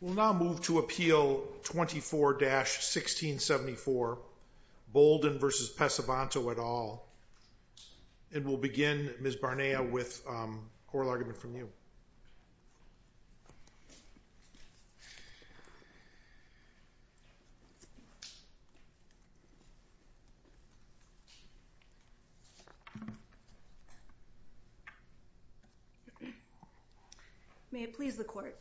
We'll now move to Appeal 24-1674 Bolden v. Pesavento et al., and we'll begin Ms. Barnea with oral argument from you. May it please the Court,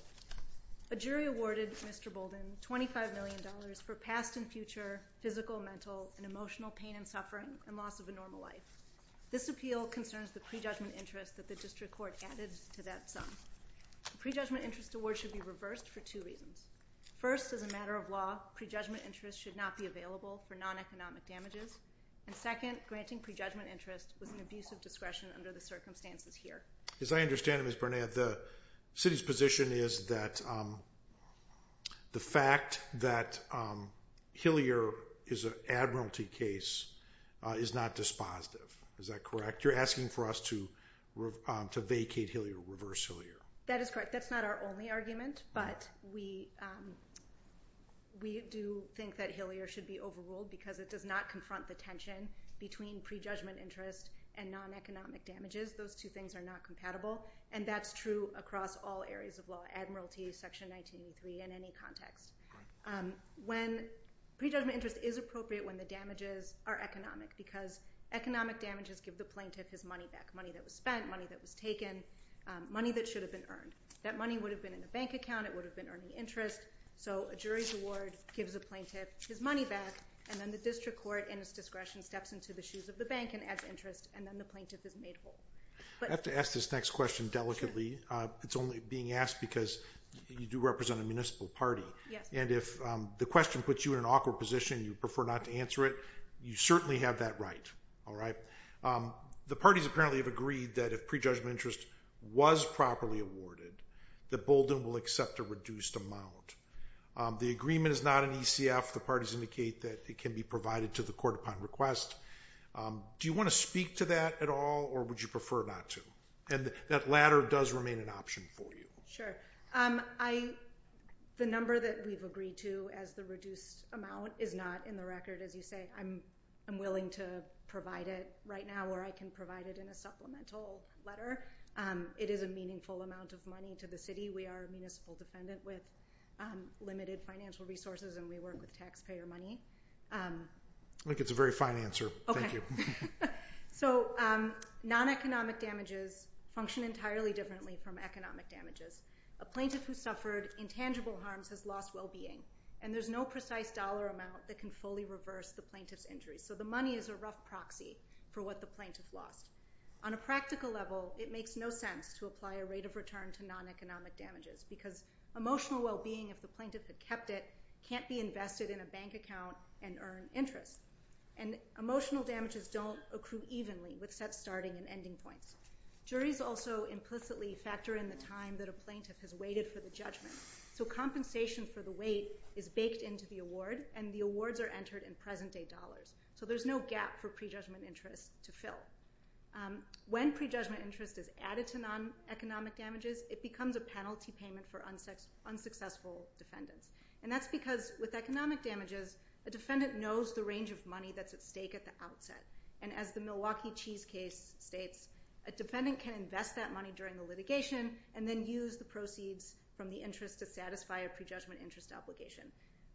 a jury awarded Mr. Bolden $25 million for past and future physical, mental, and emotional pain and suffering and loss of a normal life. This appeal concerns the prejudgment interest that the District Court added to that sum. The prejudgment interest award should be reversed for two reasons. First, as a matter of law, prejudgment interest should not be available for non-economic damages. And second, granting prejudgment interest was an abuse of discretion under the circumstances here. As I understand it, Ms. Barnea, the City's position is that the fact that Hilliard is an admiralty case is not dispositive. Is that correct? You're asking for us to vacate Hilliard, reverse Hilliard. That is correct. That's not our only argument, but we do think that Hilliard should be overruled because it does not confront the tension between prejudgment interest and non-economic damages. Those two things are not compatible, and that's true across all areas of law, admiralty, section 1983, and any context. When prejudgment interest is appropriate when the damages are economic, because economic damages give the plaintiff his money back, money that was spent, money that was taken, money that should have been earned. That money would have been in a bank account. It would have been earning interest. So a jury's award gives a plaintiff his money back, and then the district court, in its discretion, steps into the shoes of the bank and adds interest, and then the plaintiff is made whole. I have to ask this next question delicately. It's only being asked because you do represent a municipal party, and if the question puts you in an awkward position and you prefer not to answer it, you certainly have that right. The parties apparently have agreed that if prejudgment interest was properly awarded, that Bolden will accept a reduced amount. The agreement is not an ECF. The parties indicate that it can be provided to the court upon request. Do you want to speak to that at all, or would you prefer not to? And that latter does remain an option for you. Sure. The number that we've agreed to as the reduced amount is not in the record, as you say. I'm willing to provide it right now, or I can provide it in a supplemental letter. It is a meaningful amount of money to the city. We are a municipal defendant with limited financial resources, and we work with taxpayer money. I think it's a very fine answer. Thank you. So non-economic damages function entirely differently from economic damages. A plaintiff who suffered intangible harms has lost well-being, and there's no precise dollar amount that can fully reverse the plaintiff's injury. So the money is a rough proxy for what the plaintiff lost. On a practical level, it makes no sense to apply a rate of return to non-economic damages because emotional well-being, if the plaintiff had kept it, can't be invested in a bank account and earn interest. And emotional damages don't accrue evenly with set starting and ending points. Juries also implicitly factor in the time that a plaintiff has waited for the judgment. So compensation for the wait is baked into the award, and the awards are entered in present-day dollars. So there's no gap for prejudgment interest to fill. When prejudgment interest is added to non-economic damages, it becomes a penalty payment for unsuccessful defendants. And that's because with economic damages, a defendant knows the range of money that's at stake at the outset. And as the Milwaukee Cheese case states, a defendant can invest that money during the litigation and then use the proceeds from the interest to satisfy a prejudgment interest obligation.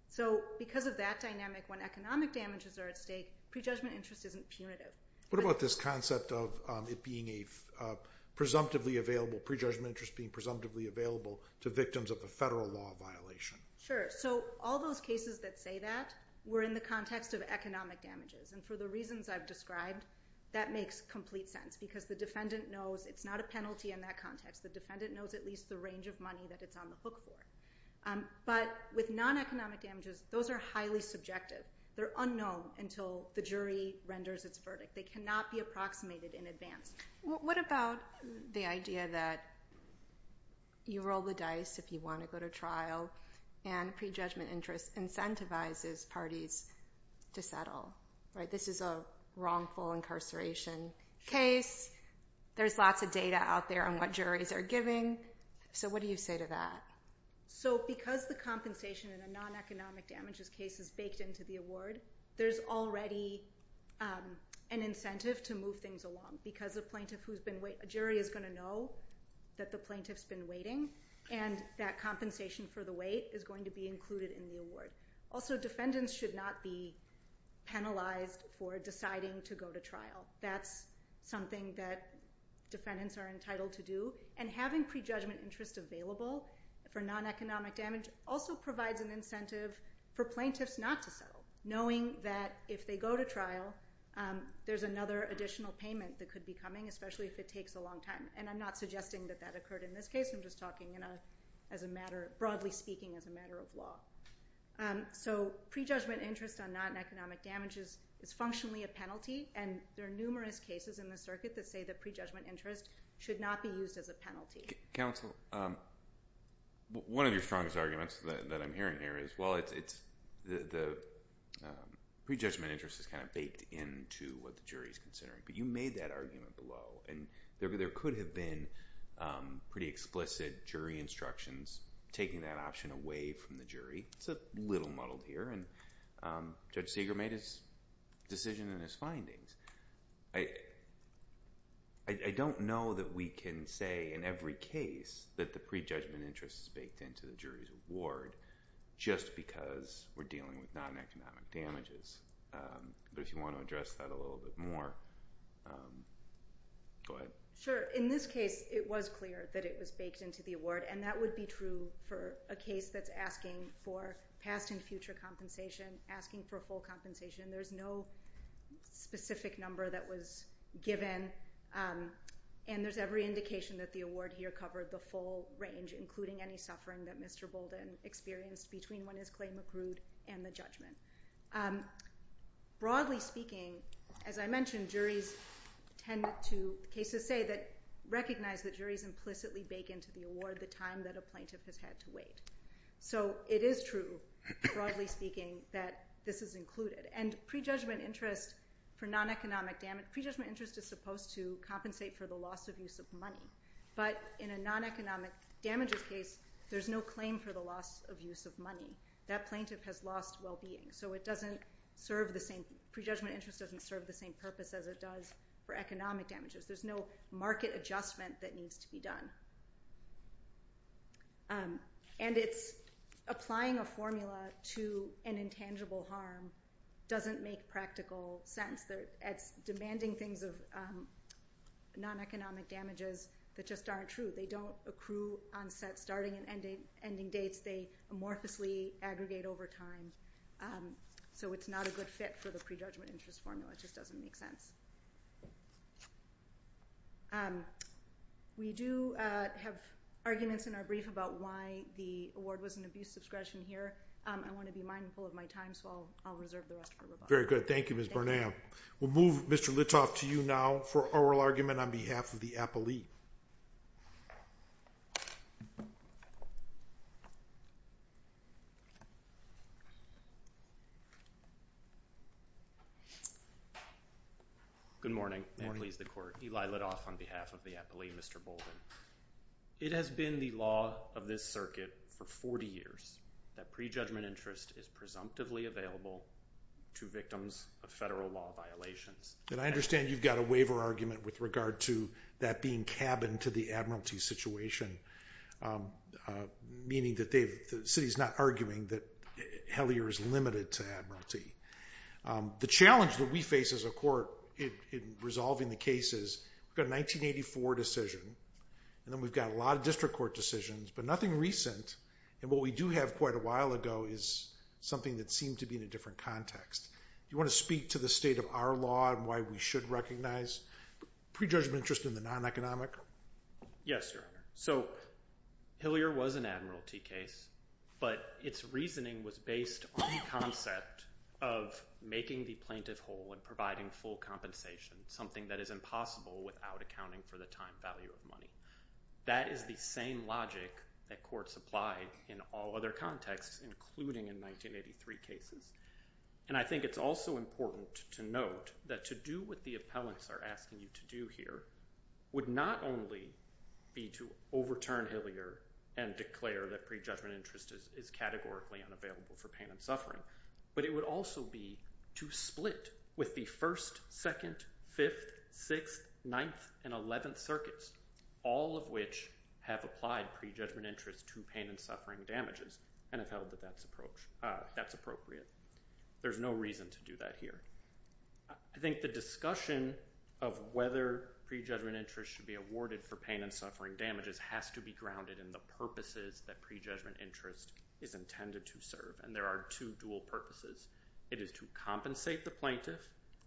So because of that dynamic, when economic damages are at stake, prejudgment interest isn't punitive. What about this concept of it being a presumptively available, prejudgment interest being presumptively available to victims of a federal law violation? Sure. So all those cases that say that were in the context of economic damages. And for the reasons I've described, that makes complete sense because the defendant knows it's not a penalty in that context. The defendant knows at least the range of money that it's on the hook for. But with non-economic damages, those are highly subjective. They're unknown until the jury renders its verdict. They cannot be approximated in advance. What about the idea that you roll the dice if you want to go to trial and prejudgment interest incentivizes parties to settle? This is a wrongful incarceration case. There's lots of data out there on what juries are giving. So what do you say to that? So because the compensation in a non-economic damages case is baked into the award, there's already an incentive to move things along because a jury is going to know that the plaintiff's been waiting and that compensation for the wait is going to be included in the award. Also, defendants should not be penalized for deciding to go to trial. That's something that defendants are entitled to do. And having prejudgment interest available for non-economic damage also provides an incentive for plaintiffs not to settle, knowing that if they go to trial, there's another additional payment that could be coming, especially if it takes a long time. And I'm not suggesting that that occurred in this case. I'm just talking broadly speaking as a matter of law. So prejudgment interest on non-economic damages is functionally a penalty, and there are numerous cases in the circuit that say that prejudgment interest should not be used as a penalty. Counsel, one of your strongest arguments that I'm hearing here is, well, the prejudgment interest is kind of baked into what the jury is considering, but you made that argument below, and there could have been pretty explicit jury instructions taking that option away from the jury. It's a little muddled here, and Judge Segar made his decision in his findings. I don't know that we can say in every case that the prejudgment interest is baked into the jury's award just because we're dealing with non-economic damages. But if you want to address that a little bit more, go ahead. Sure. In this case, it was clear that it was baked into the award, and that would be true for a case that's asking for past and future compensation, asking for full compensation. There's no specific number that was given, and there's every indication that the award here covered the full range, including any suffering that Mr. Bolden experienced between when his claim accrued and the judgment. Broadly speaking, as I mentioned, cases say that recognize that juries implicitly bake into the award the time that a plaintiff has had to wait. So it is true, broadly speaking, that this is included. And prejudgment interest for non-economic damage, prejudgment interest is supposed to compensate for the loss of use of money. But in a non-economic damages case, there's no claim for the loss of use of money. That plaintiff has lost well-being. So prejudgment interest doesn't serve the same purpose as it does for economic damages. There's no market adjustment that needs to be done. And it's applying a formula to an intangible harm doesn't make practical sense. It's demanding things of non-economic damages that just aren't true. They don't accrue on set starting and ending dates. They amorphously aggregate over time. So it's not a good fit for the prejudgment interest formula. It just doesn't make sense. We do have arguments in our brief about why the award was an abuse of discretion here. I want to be mindful of my time, so I'll reserve the rest of it. Very good. Thank you, Ms. Bernal. We'll move Mr. Litoff to you now for oral argument on behalf of the appellee. Good morning, and please the court. Eli Litoff on behalf of the appellee. Mr. Bolden, it has been the law of this circuit for 40 years that prejudgment interest is presumptively available to victims of federal law violations. And I understand you've got a waiver argument with regard to that being cabin to the admiralty situation, meaning that the city's not arguing that Hellier is limited to admiralty. The challenge that we face as a court in resolving the case is we've got a 1984 decision, and then we've got a lot of district court decisions, but nothing recent. And what we do have quite a while ago is something that seemed to be in a different context. Do you want to speak to the state of our law and why we should recognize prejudgment interest in the non-economic? Yes, Your Honor. So Hellier was an admiralty case, but its reasoning was based on the concept of making the plaintiff whole and providing full compensation, something that is impossible without accounting for the time value of money. That is the same logic that courts apply in all other contexts, including in 1983 cases. And I think it's also important to note that to do what the appellants are asking you to do here would not only be to overturn Hellier and declare that prejudgment interest is categorically unavailable for pain and suffering, but it would also be to split with the 1st, 2nd, 5th, 6th, 9th, and 11th circuits, all of which have applied prejudgment interest to pain and suffering damages and have held that that's appropriate. There's no reason to do that here. I think the discussion of whether prejudgment interest should be awarded for pain and suffering damages has to be grounded in the purposes that prejudgment interest is intended to serve. And there are two dual purposes. It is to compensate the plaintiff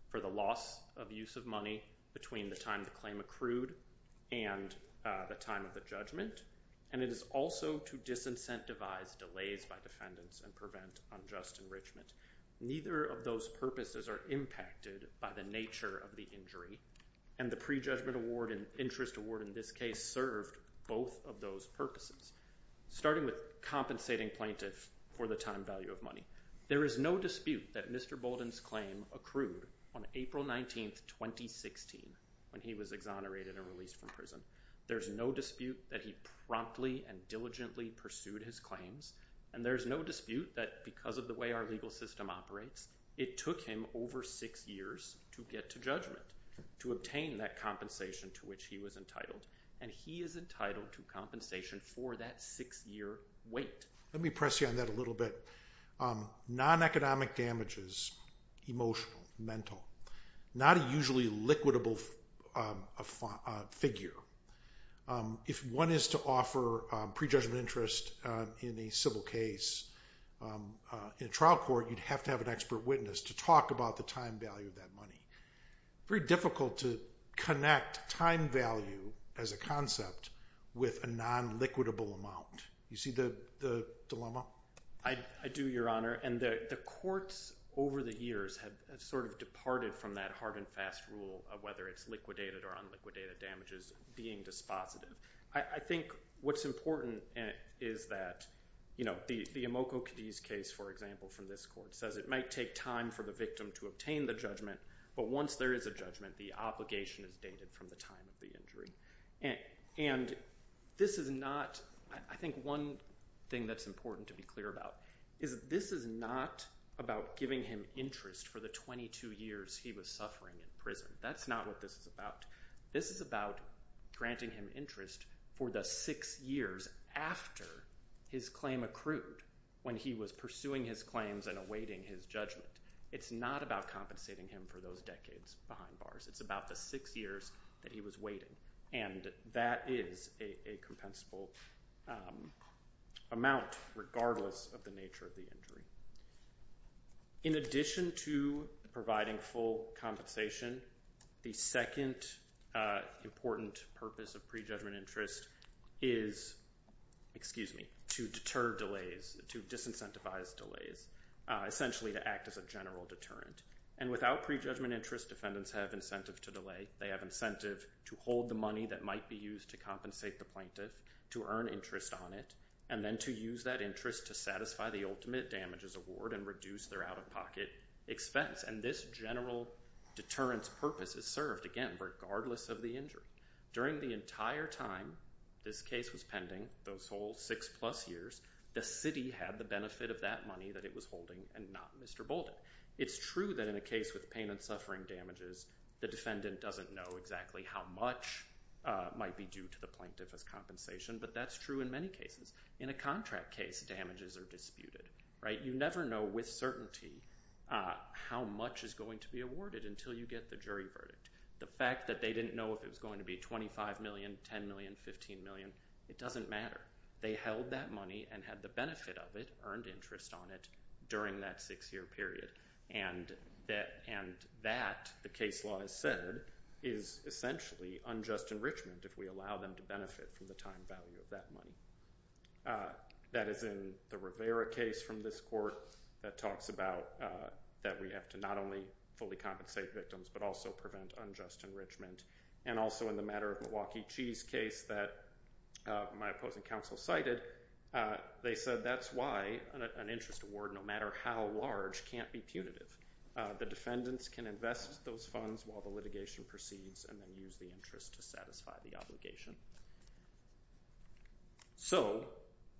for the loss of use of money between the time the claim accrued and the time of the judgment. And it is also to disincentivize delays by defendants and prevent unjust enrichment. Neither of those purposes are impacted by the nature of the injury. And the prejudgment award and interest award in this case served both of those purposes, starting with compensating plaintiffs for the time value of money. There is no dispute that Mr. Bolden's claim accrued on April 19, 2016, when he was exonerated and released from prison. There's no dispute that he promptly and diligently pursued his claims. And there's no dispute that because of the way our legal system operates, it took him over six years to get to judgment, to obtain that compensation to which he was entitled. And he is entitled to compensation for that six-year wait. Let me press you on that a little bit. Non-economic damages, emotional, mental, not a usually liquidable figure. If one is to offer prejudgment interest in a civil case in a trial court, you'd have to have an expert witness to talk about the time value of that money. Very difficult to connect time value as a concept with a non-liquidable amount. You see the dilemma? I do, Your Honor. And the courts over the years have sort of departed from that hard and fast rule of whether it's liquidated or unliquidated damages being dispositive. I think what's important is that the Imoco-Cadiz case, for example, from this court, says it might take time for the victim to obtain the judgment, but once there is a judgment, the obligation is dated from the time of the injury. And this is not, I think one thing that's important to be clear about is this is not about giving him interest for the 22 years he was suffering in prison. That's not what this is about. This is about granting him interest for the six years after his claim accrued when he was pursuing his claims and awaiting his judgment. It's not about compensating him for those decades behind bars. It's about the six years that he was waiting, and that is a compensable amount regardless of the nature of the injury. In addition to providing full compensation, the second important purpose of prejudgment interest is to deter delays, to disincentivize delays, essentially to act as a general deterrent. And without prejudgment interest, defendants have incentive to delay. They have incentive to hold the money that might be used to compensate the plaintiff, to earn interest on it, and then to use that interest to satisfy the ultimate damages award and reduce their out-of-pocket expense. And this general deterrence purpose is served, again, regardless of the injury. During the entire time this case was pending, those whole six-plus years, the city had the benefit of that money that it was holding and not Mr. Bolden. It's true that in a case with pain and suffering damages, the defendant doesn't know exactly how much might be due to the plaintiff as compensation, but that's true in many cases. In a contract case, damages are disputed. You never know with certainty how much is going to be awarded until you get the jury verdict. The fact that they didn't know if it was going to be $25 million, $10 million, $15 million, it doesn't matter. They held that money and had the benefit of it, earned interest on it, during that six-year period. And that, the case law has said, is essentially unjust enrichment if we allow them to benefit from the time value of that money. That is in the Rivera case from this court that talks about that we have to not only fully compensate victims but also prevent unjust enrichment. And also in the matter of Milwaukee Cheese case that my opposing counsel cited, they said that's why an interest award, no matter how large, can't be punitive. The defendants can invest those funds while the litigation proceeds and then use the interest to satisfy the obligation. So,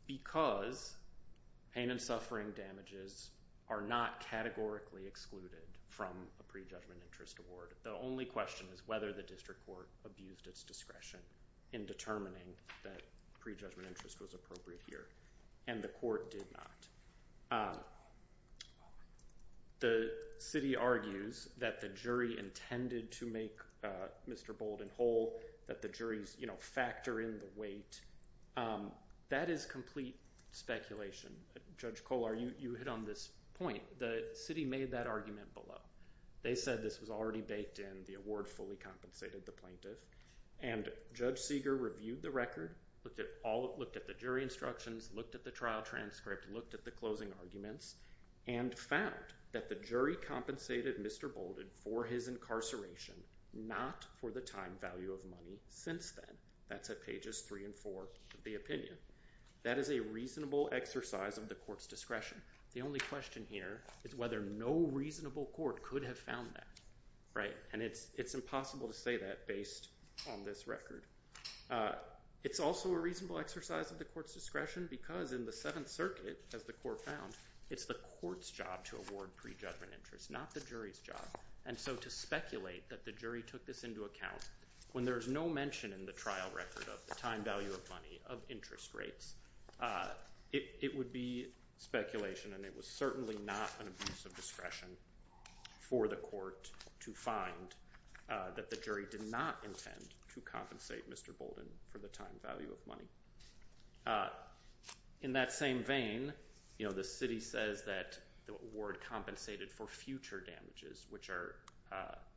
because pain and suffering damages are not categorically excluded from a pre-judgment interest award, the only question is whether the district court abused its discretion in determining that pre-judgment interest was appropriate here. And the court did not. The city argues that the jury intended to make Mr. Bolden whole, that the juries factor in the weight. That is complete speculation. Judge Kolar, you hit on this point. The city made that argument below. They said this was already baked in. The award fully compensated the plaintiff. And Judge Seeger reviewed the record, looked at the jury instructions, looked at the trial transcript, looked at the closing arguments, and found that the jury compensated Mr. Bolden for his incarceration, not for the time value of money since then. That's at pages 3 and 4 of the opinion. That is a reasonable exercise of the court's discretion. The only question here is whether no reasonable court could have found that. And it's impossible to say that based on this record. It's also a reasonable exercise of the court's discretion because in the Seventh Circuit, as the court found, it's the court's job to award pre-judgment interest, not the jury's job. And so to speculate that the jury took this into account when there is no mention in the trial record of the time value of money, of interest rates, it would be speculation, and it was certainly not an abuse of discretion for the court to find that the jury did not intend to compensate Mr. Bolden for the time value of money. In that same vein, you know, the city says that the award compensated for future damages, which are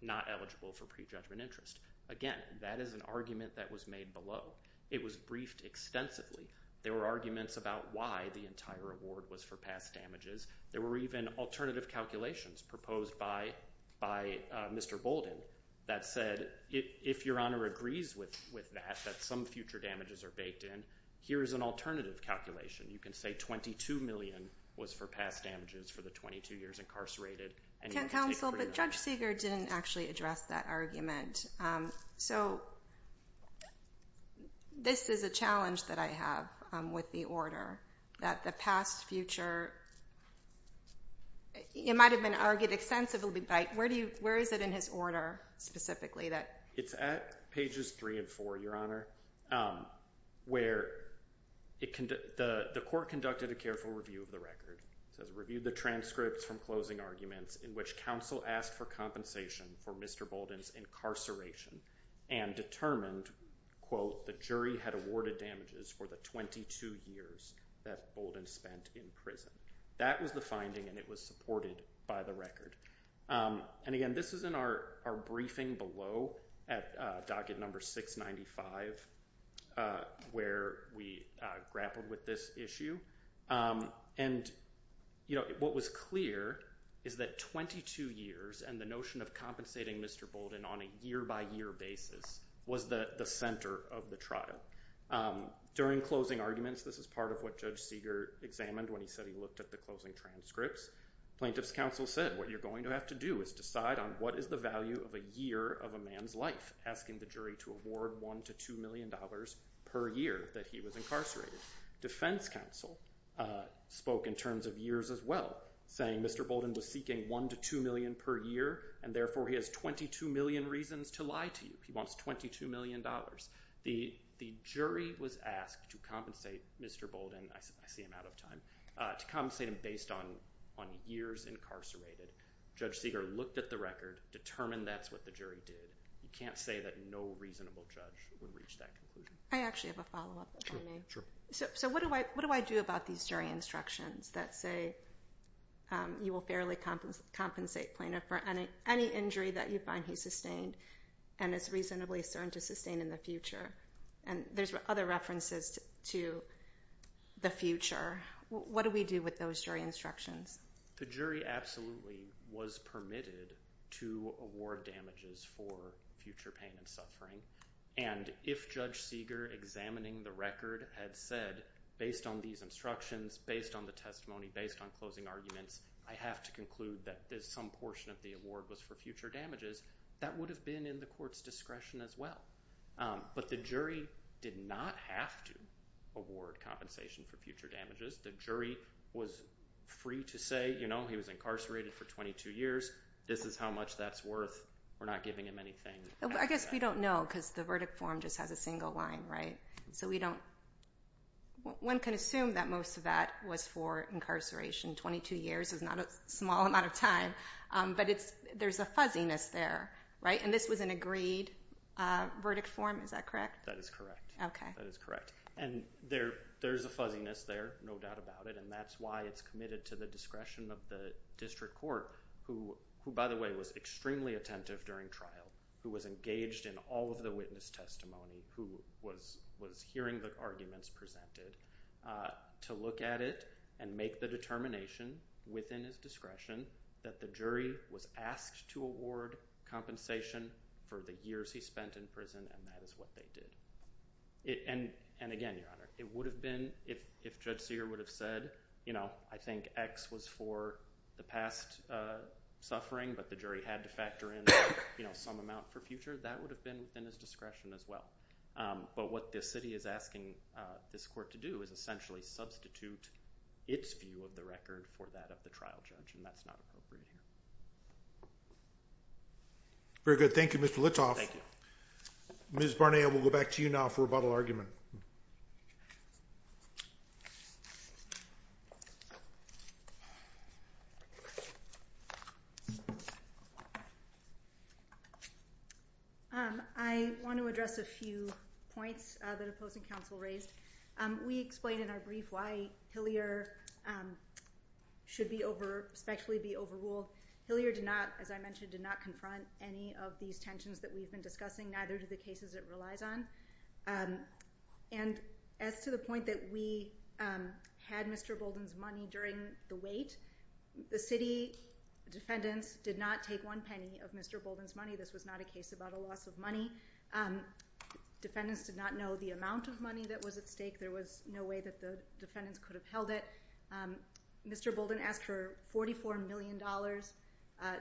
not eligible for pre-judgment interest. Again, that is an argument that was made below. It was briefed extensively. There were arguments about why the entire award was for past damages. There were even alternative calculations proposed by Mr. Bolden that said, if Your Honor agrees with that, that some future damages are baked in, here is an alternative calculation. You can say $22 million was for past damages for the 22 years incarcerated. Counsel, but Judge Seeger didn't actually address that argument. So this is a challenge that I have with the order, that the past, future, it might have been argued extensively, but where is it in his order specifically? It's at pages 3 and 4, Your Honor, where the court conducted a careful review of the record. It says, reviewed the transcripts from closing arguments in which counsel asked for compensation for Mr. Bolden's incarceration and determined, quote, the jury had awarded damages for the 22 years that Bolden spent in prison. That was the finding, and it was supported by the record. And again, this is in our briefing below at docket number 695, where we grappled with this issue. And what was clear is that 22 years and the notion of compensating Mr. Bolden on a year-by-year basis was the center of the trial. During closing arguments, this is part of what Judge Seeger examined when he said he looked at the closing transcripts. Plaintiff's counsel said, what you're going to have to do is decide on what is the value of a year of a man's life, asking the jury to award $1 to $2 million per year that he was incarcerated. Defense counsel spoke in terms of years as well, saying Mr. Bolden was seeking $1 to $2 million per year, and therefore he has 22 million reasons to lie to you. He wants $22 million. The jury was asked to compensate Mr. Bolden. I see I'm out of time. To compensate him based on years incarcerated. Judge Seeger looked at the record, determined that's what the jury did. You can't say that no reasonable judge would reach that conclusion. I actually have a follow-up. Sure. So what do I do about these jury instructions that say you will fairly compensate Plaintiff for any injury that you find he sustained and is reasonably certain to sustain in the future? And there's other references to the future. What do we do with those jury instructions? The jury absolutely was permitted to award damages for future pain and suffering. And if Judge Seeger, examining the record, had said, based on these instructions, based on the testimony, based on closing arguments, I have to conclude that some portion of the award was for future damages, that would have been in the court's discretion as well. But the jury did not have to award compensation for future damages. The jury was free to say, you know, he was incarcerated for 22 years. This is how much that's worth. We're not giving him anything. I guess we don't know because the verdict form just has a single line, right? So we don't – one can assume that most of that was for incarceration. Twenty-two years is not a small amount of time, but there's a fuzziness there, right? And this was an agreed verdict form, is that correct? That is correct. Okay. That is correct. And there's a fuzziness there, no doubt about it, and that's why it's committed to the discretion of the district court, who, by the way, was extremely attentive during trial, who was engaged in all of the witness testimony, who was hearing the arguments presented, to look at it and make the determination within his discretion that the jury was asked to award compensation for the years he spent in prison, and that is what they did. And again, Your Honor, it would have been if Judge Seeger would have said, you know, I think X was for the past suffering, but the jury had to factor in some amount for future, that would have been within his discretion as well. But what this city is asking this court to do is essentially substitute its view of the record for that of the trial judge, and that's not appropriate here. Very good. Thank you, Mr. Litoff. Thank you. Ms. Barnea, we'll go back to you now for rebuttal argument. I want to address a few points that opposing counsel raised. We explained in our brief why Hillier should be over, especially be overruled. Hillier did not, as I mentioned, did not confront any of these tensions that we've been discussing, neither do the cases it relies on. And as to the point that we had Mr. Bolden's money during the wait, the city defendants did not take one penny of Mr. Bolden's money. This was not a case about a loss of money. Defendants did not know the amount of money that was at stake. There was no way that the defendants could have held it. Mr. Bolden asked for $44 million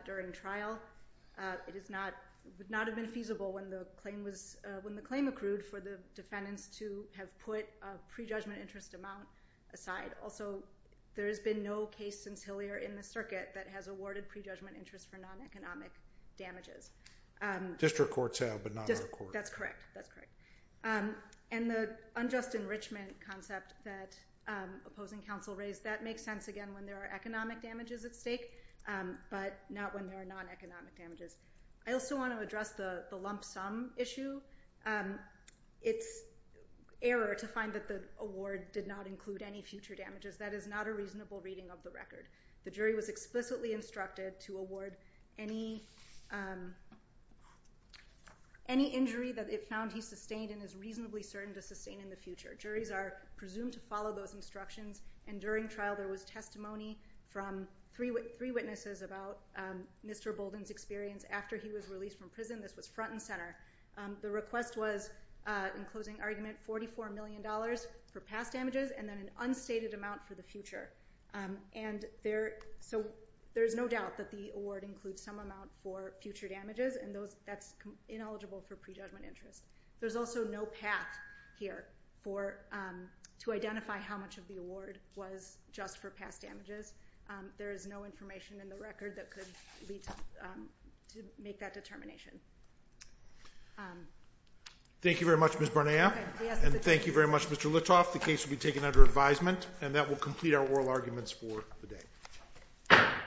during trial. It is not, would not have been feasible when the claim was, when the claim accrued for the defendants to have put a prejudgment interest amount aside. Also, there has been no case since Hillier in the circuit that has awarded prejudgment interest for non-economic damages. District courts have, but not our courts. That's correct. That's correct. And the unjust enrichment concept that opposing counsel raised, that makes sense, again, when there are economic damages at stake, but not when there are non-economic damages. I also want to address the lump sum issue. It's error to find that the award did not include any future damages. That is not a reasonable reading of the record. The jury was explicitly instructed to award any injury that it found he sustained and is reasonably certain to sustain in the future. Juries are presumed to follow those instructions, and during trial there was testimony from three witnesses about Mr. Bolden's experience after he was released from prison. This was front and center. The request was, in closing argument, $44 million for past damages and then an unstated amount for the future. There is no doubt that the award includes some amount for future damages, and that's ineligible for prejudgment interest. There's also no path here to identify how much of the award was just for past damages. There is no information in the record that could lead to make that determination. Thank you very much, Ms. Barnea, and thank you very much, Mr. Litoff. The case will be taken under advisement, and that will complete our oral arguments for the day.